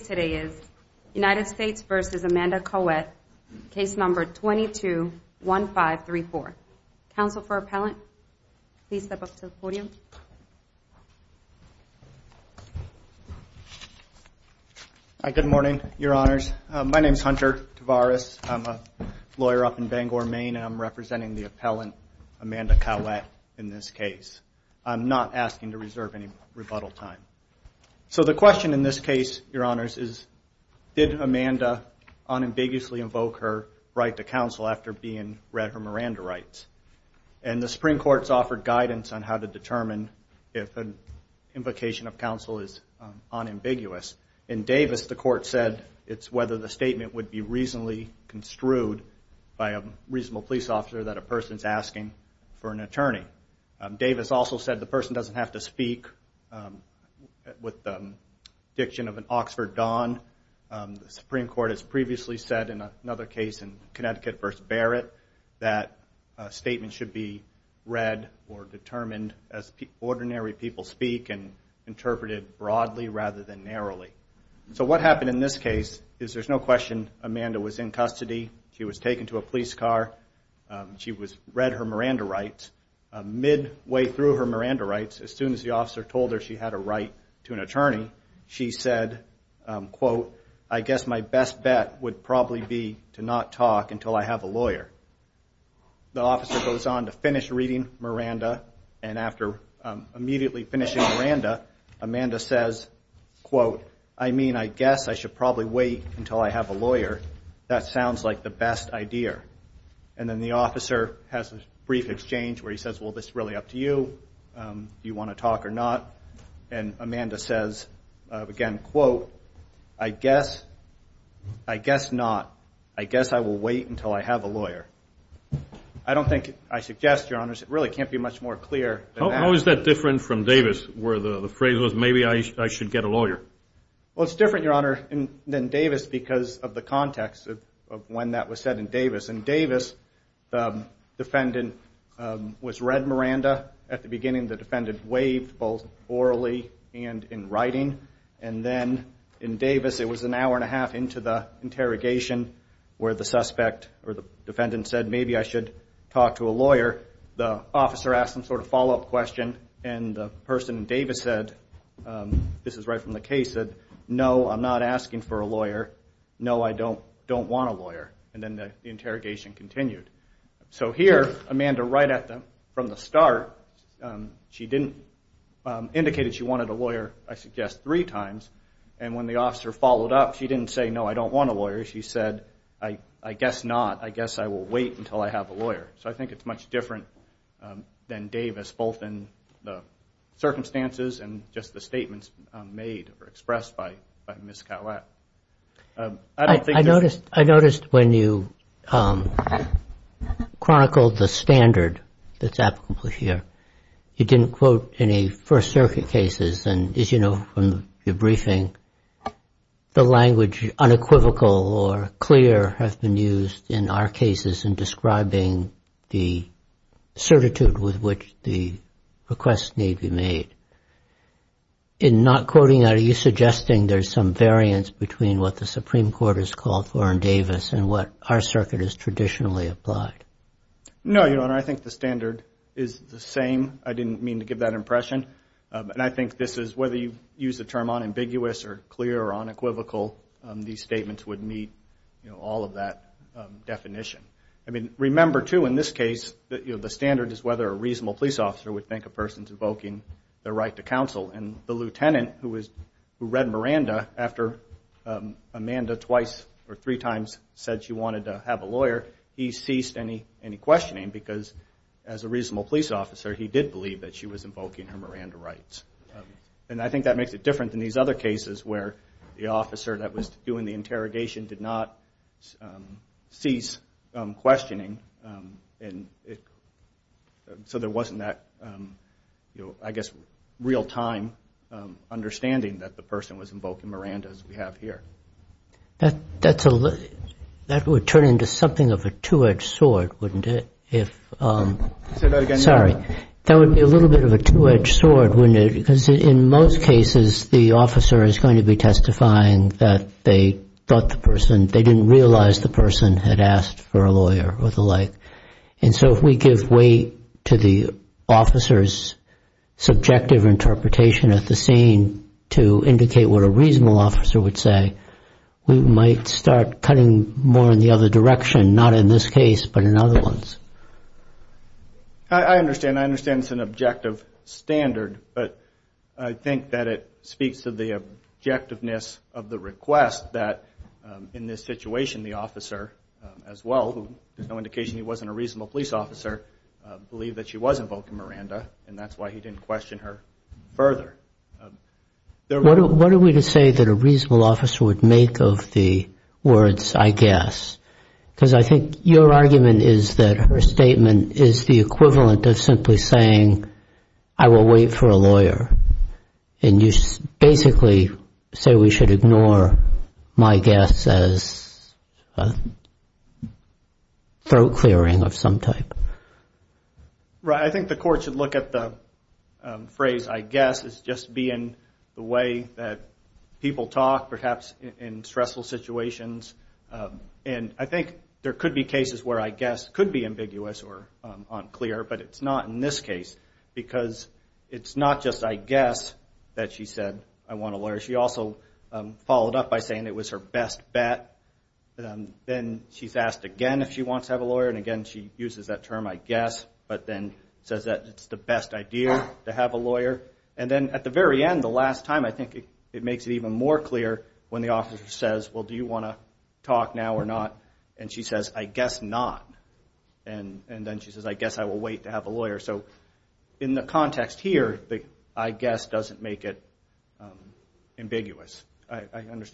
today is United States v. Amanda Cowette case number 221534. Counsel for appellant, please step up to the podium. Hi, good morning, your honors. My name is Hunter Tavares. I'm a lawyer up in Bangor, Maine. I'm representing the appellant, Amanda Cowette, in this case. I'm not asking to reserve any rebuttal time. So the question in this case, your honors, is did Amanda unambiguously invoke her right to counsel after being read her Miranda rights? And the Supreme Court's offered guidance on how to determine if an invocation of counsel is unambiguous. In Davis, the court said it's whether the statement would be reasonably construed by a reasonable police officer that a person's asking for an attorney. Davis also said the person doesn't have to respond. The Supreme Court has previously said in another case in Connecticut v. Barrett that a statement should be read or determined as ordinary people speak and interpreted broadly rather than narrowly. So what happened in this case is there's no question Amanda was in custody. She was taken to a police car. She was read her Miranda rights. Midway through her Miranda rights, as soon as the officer told her she had a right to an attorney, she said, quote, I guess my best bet would probably be to not talk until I have a lawyer. The officer goes on to finish reading Miranda. And after immediately finishing Miranda, Amanda says, quote, I mean, I guess I should probably wait until I have a lawyer. That sounds like the best idea. And then the officer has a brief exchange where he says, well, this is really up to you. Do you want to talk or not? And Amanda says, again, quote, I guess, I guess not. I guess I will wait until I have a lawyer. I don't think, I suggest, Your Honors, it really can't be much more clear. How is that different from Davis where the phrase was, maybe I should get a lawyer? Well, it's different, Your Honor, than Davis because of the context of when that was said in Davis. In Davis, the defendant was read Miranda. At the beginning, the defendant waved both orally and in writing. And then in Davis, it was an hour and a half into the interrogation where the suspect or the defendant said, maybe I should talk to a lawyer. The officer asked some sort of follow-up question. And the person in Davis said, this is right from the case, no, I'm not asking for a lawyer. No, I don't want a lawyer. And then the interrogation continued. So here, Amanda, right from the start, she didn't indicate that she wanted a lawyer, I suggest, three times. And when the officer followed up, she didn't say, no, I don't want a lawyer. She said, I guess not. I guess I will wait until I have a lawyer. So I think it's much different than the circumstances and just the statements made or expressed by Ms. Collette. I don't think there's- I noticed when you chronicled the standard that's applicable here, you didn't quote any First Circuit cases. And as you know from your briefing, the language unequivocal or clear has been used in our cases in describing the decisions that just need to be made. In not quoting, are you suggesting there's some variance between what the Supreme Court has called for in Davis and what our circuit has traditionally applied? No, Your Honor. I think the standard is the same. I didn't mean to give that impression. And I think this is, whether you use the term unambiguous or clear or unequivocal, these statements would meet all of that definition. I mean, remember, too, in this case, the standard is whether a reasonable police officer would think a person's invoking their right to counsel. And the lieutenant who read Miranda after Amanda twice or three times said she wanted to have a lawyer, he ceased any questioning because, as a reasonable police officer, he did believe that she was invoking her Miranda rights. And I think that makes it different than these other cases where the officer that was doing the interrogation did not cease questioning. So there wasn't that, I guess, real-time understanding that the person was invoking Miranda, as we have here. That would turn into something of a two-edged sword, wouldn't it, if... Say that again. Sorry. That would be a little bit of a two-edged sword, wouldn't it, because in most cases, the officer is going to be testifying that they thought the person, they didn't realize the person had asked for a lawyer or the like. And so if we give way to the officer's subjective interpretation at the scene to indicate what a reasonable officer would say, we might start cutting more in the other direction, not in this case, but in other ones. I understand. I understand it's an objective standard, but I think that it speaks to the objectiveness of the request that, in this situation, the officer, as well, there's no indication he wasn't a reasonable police officer, believed that she was invoking Miranda, and that's why he didn't question her further. What are we to say that a reasonable officer would make of the words, I guess? Because I think your argument is that her statement is the equivalent of simply saying, I will wait for a lawyer. And you basically say we should ignore my guess as throat clearing of some type. Right. I think the court should look at the phrase, I guess, as just being the way that people talk, perhaps in stressful situations. And I think there could be cases where I guess could be ambiguous or unclear, but it's not in this case. Because it's not just I guess that she said, I want a lawyer. She also followed up by saying it was her best bet. Then she's asked again if she wants to have a lawyer, and again she uses that term, I guess, but then says that it's the best idea to have a lawyer. And then at the very end, the last time, I think it makes it even more clear when the officer says, well, do you want to talk now or not? And she says, I guess not. And then she says, I guess I will wait to have a lawyer. So in the context here, the I guess doesn't make it ambiguous.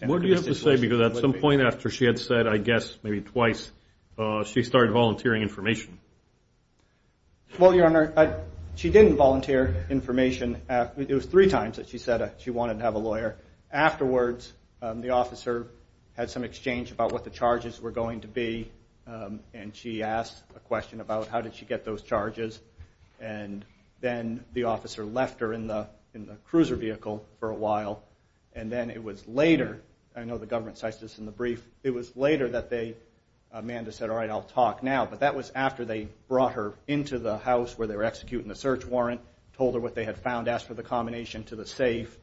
What do you have to say? Because at some point after she had said I guess, maybe twice, she started volunteering information. Well, Your Honor, she didn't volunteer information. It was three times that she wanted to have a lawyer. Afterwards, the officer had some exchange about what the charges were going to be, and she asked a question about how did she get those charges. And then the officer left her in the cruiser vehicle for a while. And then it was later, I know the government cites this in the brief, it was later that they, Amanda said, all right, I'll talk now. But that was after they brought her into the house where they were executing the search warrant, told her what they had found, asked for the combination to the safe.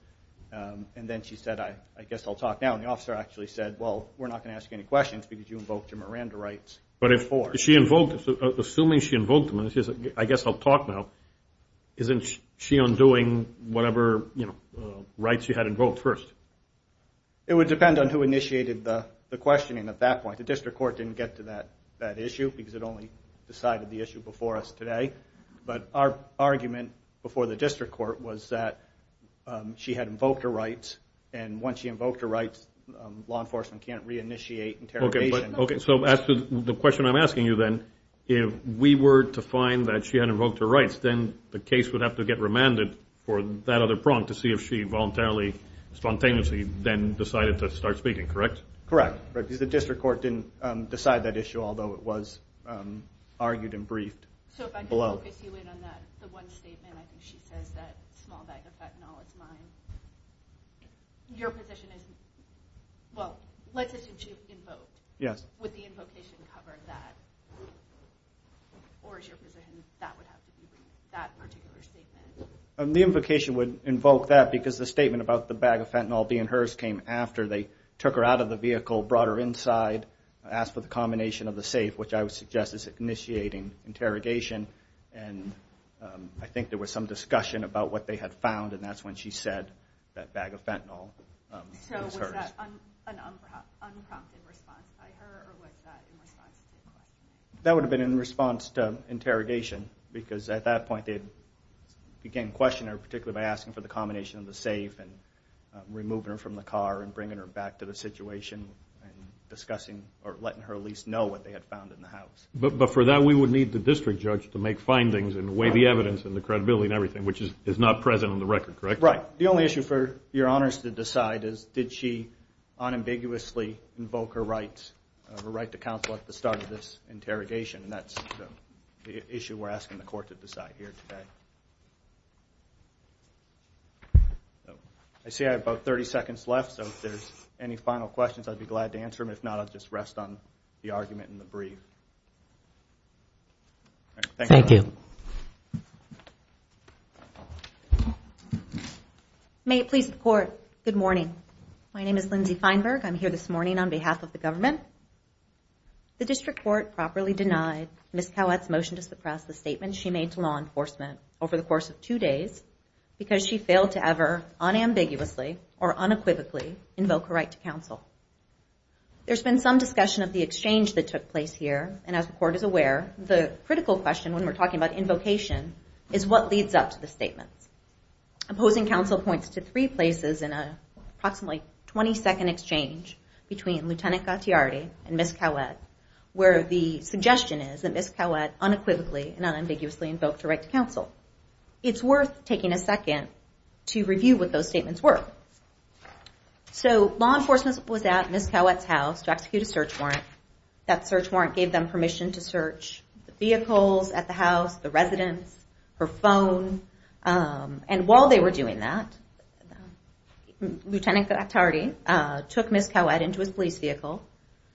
And then she said, I guess I'll talk now. And the officer actually said, well, we're not going to ask you any questions because you invoked your Miranda rights before. But if she invoked, assuming she invoked them, and she said, I guess I'll talk now, isn't she undoing whatever, you know, rights you had invoked first? It would depend on who initiated the questioning at that point. The district court didn't get to that issue because it only decided the issue before us the district court was that she had invoked her rights. And once she invoked her rights, law enforcement can't reinitiate interrogation. OK, so the question I'm asking you, then, if we were to find that she had invoked her rights, then the case would have to get remanded for that other prompt to see if she voluntarily, spontaneously then decided to start speaking, correct? Correct. Because the district court didn't decide that issue, although it was argued and briefed below. So if I can focus you in on that, the one statement, I think she says that small bag of fentanyl is mine. Your position is, well, let's assume she invoked. Yes. Would the invocation cover that? Or is your position that would have to be briefed, that particular statement? The invocation would invoke that because the statement about the bag of fentanyl being hers came after they took her out of the vehicle, brought her out of the vehicle, which I would suggest is initiating interrogation. And I think there was some discussion about what they had found, and that's when she said that bag of fentanyl was hers. So was that an unprompted response by her, or was that in response to the question? That would have been in response to interrogation, because at that point they had began questioning her, particularly by asking for the combination of the safe, and removing her from the car, and bringing her back to the situation, and discussing, or letting her at least know what they had found in the house. But for that, we would need the district judge to make findings, and weigh the evidence, and the credibility, and everything, which is not present on the record, correct? Right. The only issue for your honors to decide is, did she unambiguously invoke her right to counsel at the start of this interrogation? And that's the issue we're asking the court to decide here today. I see I have about 30 seconds left, so if there's any final questions, I'd be glad to answer them. If not, I'll just rest on the argument in the brief. Thank you. May it please the court, good morning. My name is Lindsay Feinberg. I'm here this morning on behalf of the government. The district court properly denied Ms. Cowett's motion to suppress the statement she made to law enforcement over the course of two days, because she failed to ever unambiguously, or unequivocally, invoke her right to counsel. There's been some discussion of the exchange that took place here, and as the court is aware, the critical question when we're talking about invocation, is what leads up to the statement. Opposing counsel points to three places in an approximately 20 second exchange between Lieutenant Gattiardi and Ms. Cowett, where the suggestion is that Ms. Cowett unequivocally and unambiguously invoked her right to counsel. It's worth taking a second to review what those did. They went to Ms. Cowett's house to execute a search warrant. That search warrant gave them permission to search the vehicles at the house, the residents, her phone. And while they were doing that, Lieutenant Gattiardi took Ms. Cowett into his police vehicle,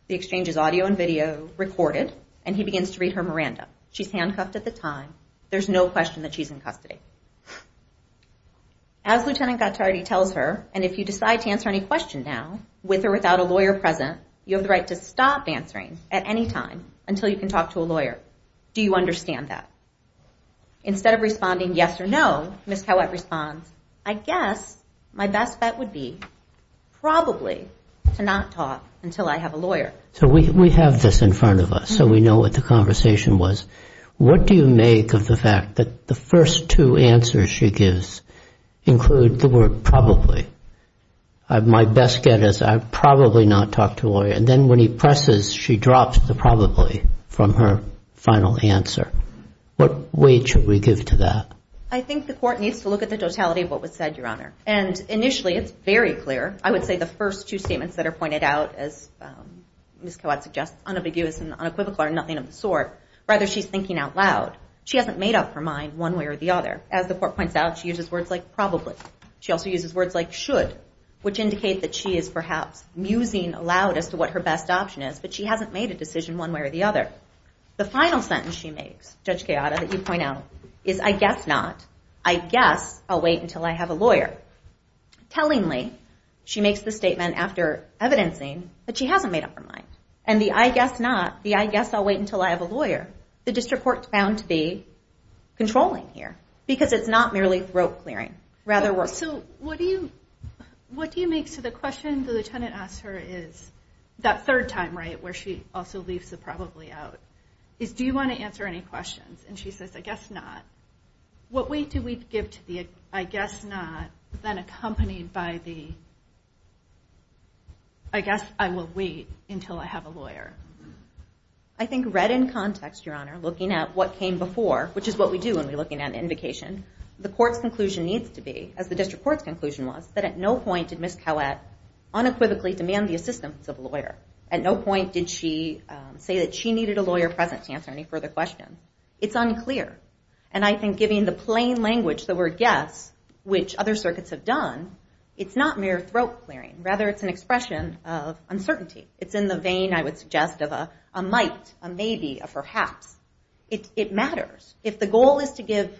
the exchange's audio and video recorded, and he begins to read her Miranda. She's handcuffed at the time, there's no question that she's in custody. As Lieutenant Gattiardi tells her, and if you decide to answer any question now, with or without a lawyer present, you have the right to stop answering at any time until you can talk to a lawyer. Do you understand that? Instead of responding yes or no, Ms. Cowett responds, I guess my best bet would be probably to not talk until I have a lawyer. So we have this in front of us, so we know what the conversation was. What do you make of the fact that the first two answers she gets is, I'd probably not talk to a lawyer. And then when he presses, she drops the probably from her final answer. What weight should we give to that? I think the court needs to look at the totality of what was said, Your Honor. And initially, it's very clear. I would say the first two statements that are pointed out, as Ms. Cowett suggests, unambiguous and unequivocal are nothing of the sort. Rather, she's thinking out loud. She hasn't made up her mind one way or the other. As the court points out, she uses words like probably. She also uses words like should, which indicate that she is perhaps musing aloud as to what her best option is, but she hasn't made a decision one way or the other. The final sentence she makes, Judge Chioda, that you point out, is, I guess not. I guess I'll wait until I have a lawyer. Tellingly, she makes the statement after evidencing that she hasn't made up her mind. And the I guess not, the I guess I'll wait until I have a lawyer, the district court found to be controlling here, because it's not merely throat clearing. Rather, we're... So what do you... What do you make... So the question the lieutenant asks her is, that third time, right, where she also leaves the probably out, is, do you wanna answer any questions? And she says, I guess not. What weight do we give to the I guess not, then accompanied by the I guess I will wait until I have a lawyer? I think read in context, Your Honor, looking at what came before, which is what we do when we're looking at an invocation, the court's conclusion needs to be, as the district court's conclusion was, that at no point did Ms. Cowett unequivocally demand the assistance of a lawyer. At no point did she say that she needed a lawyer present to answer any further question. It's unclear. And I think, giving the plain language, the word, yes, which other circuits have done, it's not mere throat clearing. Rather, it's an expression of uncertainty. It's in the vein, I would suggest, of a might, a maybe, a perhaps. It matters. If the goal is to give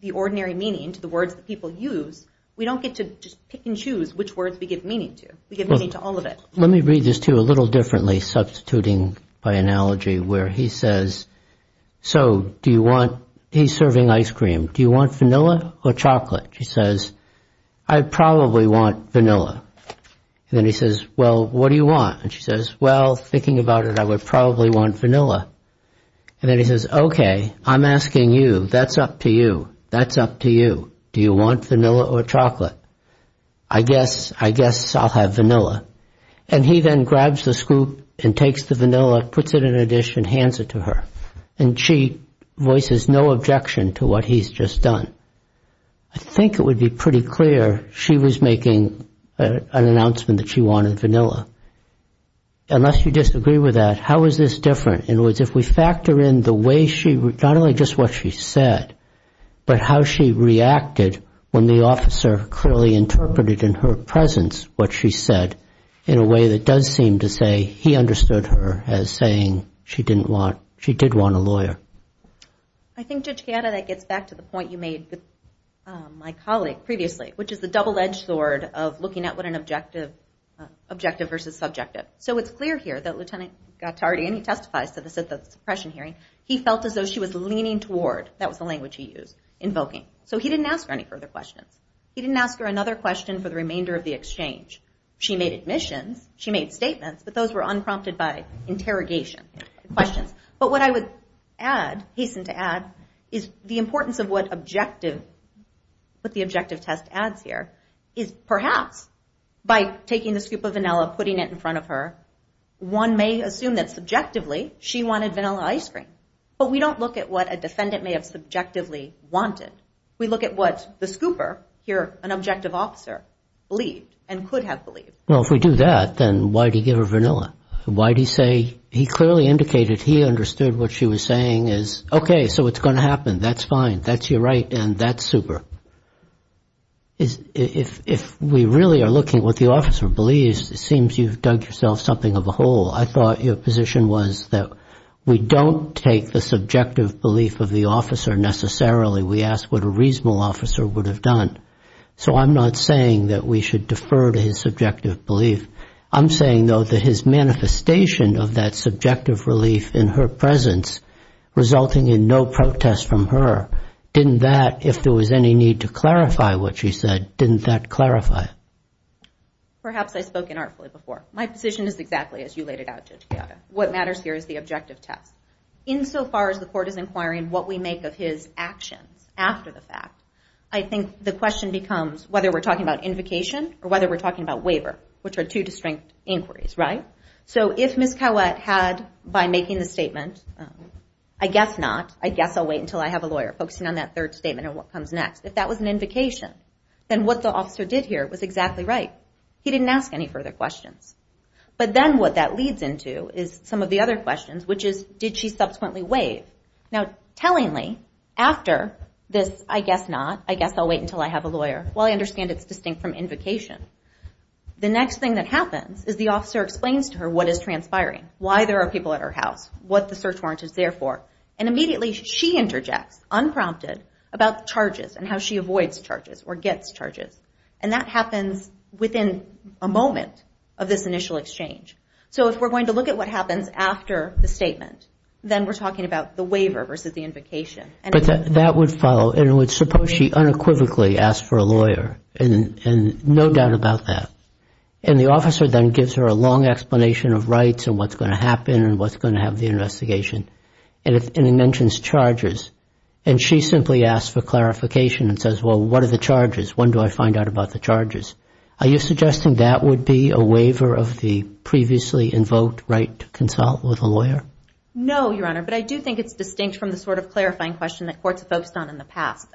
the ordinary meaning to the words that people use, we don't get to just pick and choose which words we give meaning to. We give meaning to all of it. Let me read this to you a little differently, substituting by analogy, where he says, so do you want... He's serving ice cream. Do you want vanilla or chocolate? She says, I probably want vanilla. And then he says, well, what do you want? And she says, well, thinking about it, I would probably want vanilla. And then he says, okay, I'm asking you. That's up to you. That's up to you. Do you want vanilla or chocolate? I guess I'll have vanilla. And he then grabs the scoop and takes the vanilla, puts it in a dish and hands it to her. And she voices no objection to what he's just done. I think it would be pretty clear she was making an announcement that she wanted vanilla. Unless you disagree with that, how is this different? In other words, if we factor in the way she, not only just what she said, but how she reacted when the officer clearly interpreted in her presence what she said in a way that does seem to say he understood her as saying she didn't want... She did want a lawyer. I think, Judge Gatta, that gets back to the point you made with my colleague previously, which is the double edged sword of looking at what an objective versus subjective. So it's clear here that Lieutenant Gattardi, and he testifies to this at the suppression hearing, he felt as though she was leaning toward, that was the language he used, invoking. So he didn't ask her any further questions. He didn't ask her another question for the remainder of the exchange. She made admissions, she made statements, but those were unprompted by interrogation, questions. But what I would add, hasten to add, is the importance of what objective, what the objective test adds here, is perhaps by taking the scoop of vanilla, putting it in front of her, one may assume that subjectively, she wanted vanilla ice cream. But we don't look at what a defendant may have subjectively wanted. We look at what the scooper, here, an objective officer, believed and could have believed. Well, if we do that, then why did he give her vanilla? Why did he say he clearly indicated he understood what she was saying is, okay, so it's gonna happen. That's fine. That's your right and that's super. If we really are looking at what the officer believes, it seems you've dug yourself something of a hole. I thought your position was that we don't take the subjective belief of the officer necessarily. We ask what a reasonable officer would have done. So I'm not saying that we should defer to his subjective belief. I'm saying, though, that his manifestation of that subjective relief in her presence, resulting in no protest from her, didn't that, if there was any need to clarify what she said, didn't that clarify? Perhaps I spoke inartfully before. My position is exactly as you laid it out, Judge Chiara. What matters here is the objective test. In so far as the court is inquiring what we make of his actions after the fact, I think the question becomes whether we're talking about invocation or whether we're talking about waiver, which are two distinct inquiries, right? So if Ms. Cowett had, by making the statement, I'll wait until I have a lawyer, focusing on that third statement and what comes next, if that was an invocation, then what the officer did here was exactly right. He didn't ask any further questions. But then what that leads into is some of the other questions, which is, did she subsequently waive? Now, tellingly, after this, I guess not, I guess I'll wait until I have a lawyer, while I understand it's distinct from invocation, the next thing that happens is the officer explains to her what is transpiring, why there are people at her house, what the attorney interjects, unprompted, about charges and how she avoids charges or gets charges. And that happens within a moment of this initial exchange. So if we're going to look at what happens after the statement, then we're talking about the waiver versus the invocation. But that would follow, and it would suppose she unequivocally asked for a lawyer, and no doubt about that. And the officer then gives her a long explanation of rights and what's going to happen and what's going to have the investigation. And it mentions charges. And she simply asks for clarification and says, well, what are the charges? When do I find out about the charges? Are you suggesting that would be a waiver of the previously invoked right to consult with a lawyer? No, Your Honor. But I do think it's distinct from the sort of clarifying question that courts have focused on in the past.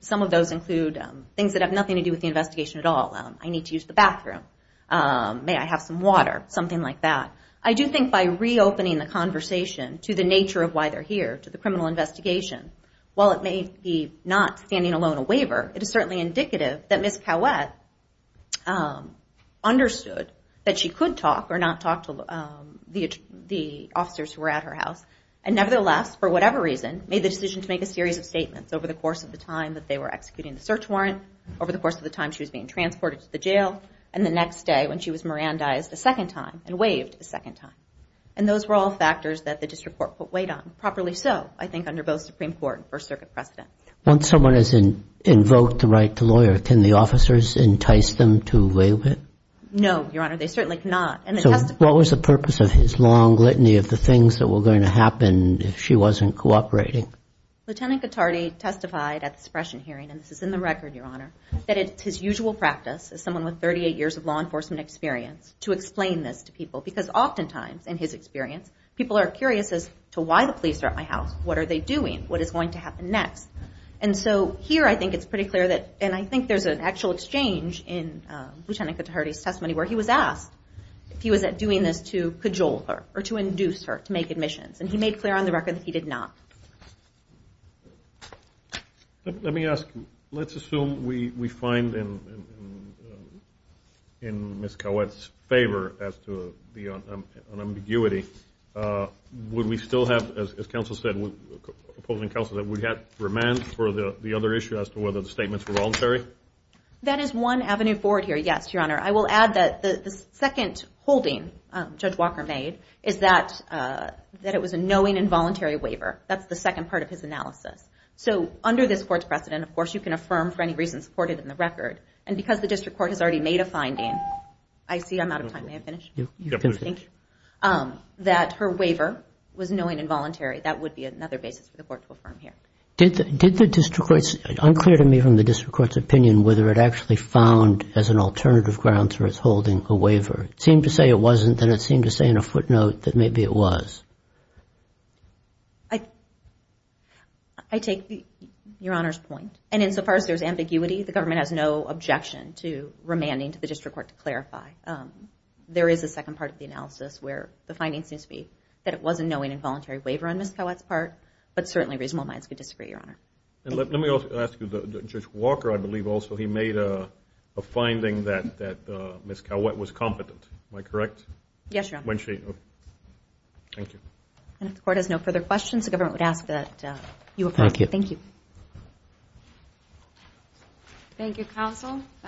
Some of those include things that have nothing to do with the investigation at all. I need to use the bathroom. May I have some water? Something like that. I do think by reopening the conversation to the nature of why they're here, to the criminal investigation, while it may be not standing alone a waiver, it is certainly indicative that Ms. Cowett understood that she could talk or not talk to the officers who were at her house. And nevertheless, for whatever reason, made the decision to make a series of statements over the course of the time that they were executing the search warrant, over the course of the time she was being transported to the jail, and the next day when she was and waived a second time. And those were all factors that the district court put weight on. Properly so, I think, under both Supreme Court and First Circuit precedent. Once someone has invoked the right to lawyer, can the officers entice them to waive it? No, Your Honor. They certainly cannot. So what was the purpose of his long litany of the things that were going to happen if she wasn't cooperating? Lieutenant Cattardi testified at the suppression hearing, and this is in the record, Your Honor, that it's his usual practice as someone with 38 years of law enforcement experience to explain this to people. Because oftentimes, in his experience, people are curious as to why the police are at my house, what are they doing, what is going to happen next. And so here I think it's pretty clear that, and I think there's an actual exchange in Lieutenant Cattardi's testimony where he was asked if he was doing this to cajole her, or to induce her to make admissions. And he made clear on the record that he did not. Let me ask, let's assume we find in Ms. Cowett's favor as to the ambiguity, would we still have, as counsel said, opposing counsel, that we'd have remand for the other issue as to whether the statements were voluntary? That is one avenue forward here, yes, Your Honor. I will add that the second holding Judge Walker made is that it was a knowing and voluntary waiver. That's the second part of his analysis. So under this court's precedent, of course, you can affirm for any reason supported in the record. And because the district court has already made a finding, I see I'm out of time, may I finish? You can finish. Thank you. That her waiver was knowing and voluntary, that would be another basis for the court to affirm here. Did the district court's, unclear to me from the district court's opinion whether it actually found as an alternative grounds for his holding a waiver. It seemed to say it wasn't, then it seemed to say in a footnote that maybe it was. I, I take Your Honor's point. And insofar as there's ambiguity, the government has no objection to remanding to the district court to clarify. There is a second part of the analysis where the finding seems to be that it was a knowing and voluntary waiver on Ms. Calwett's part, but certainly reasonable minds could disagree, Your Honor. Let me ask you, Judge Walker, I believe also, he made a finding that Ms. Calwett was competent. Am I correct? Yes, Your Honor. Thank you. And if the court has no further questions, the government would ask that you affirm. Thank you. Thank you, counsel.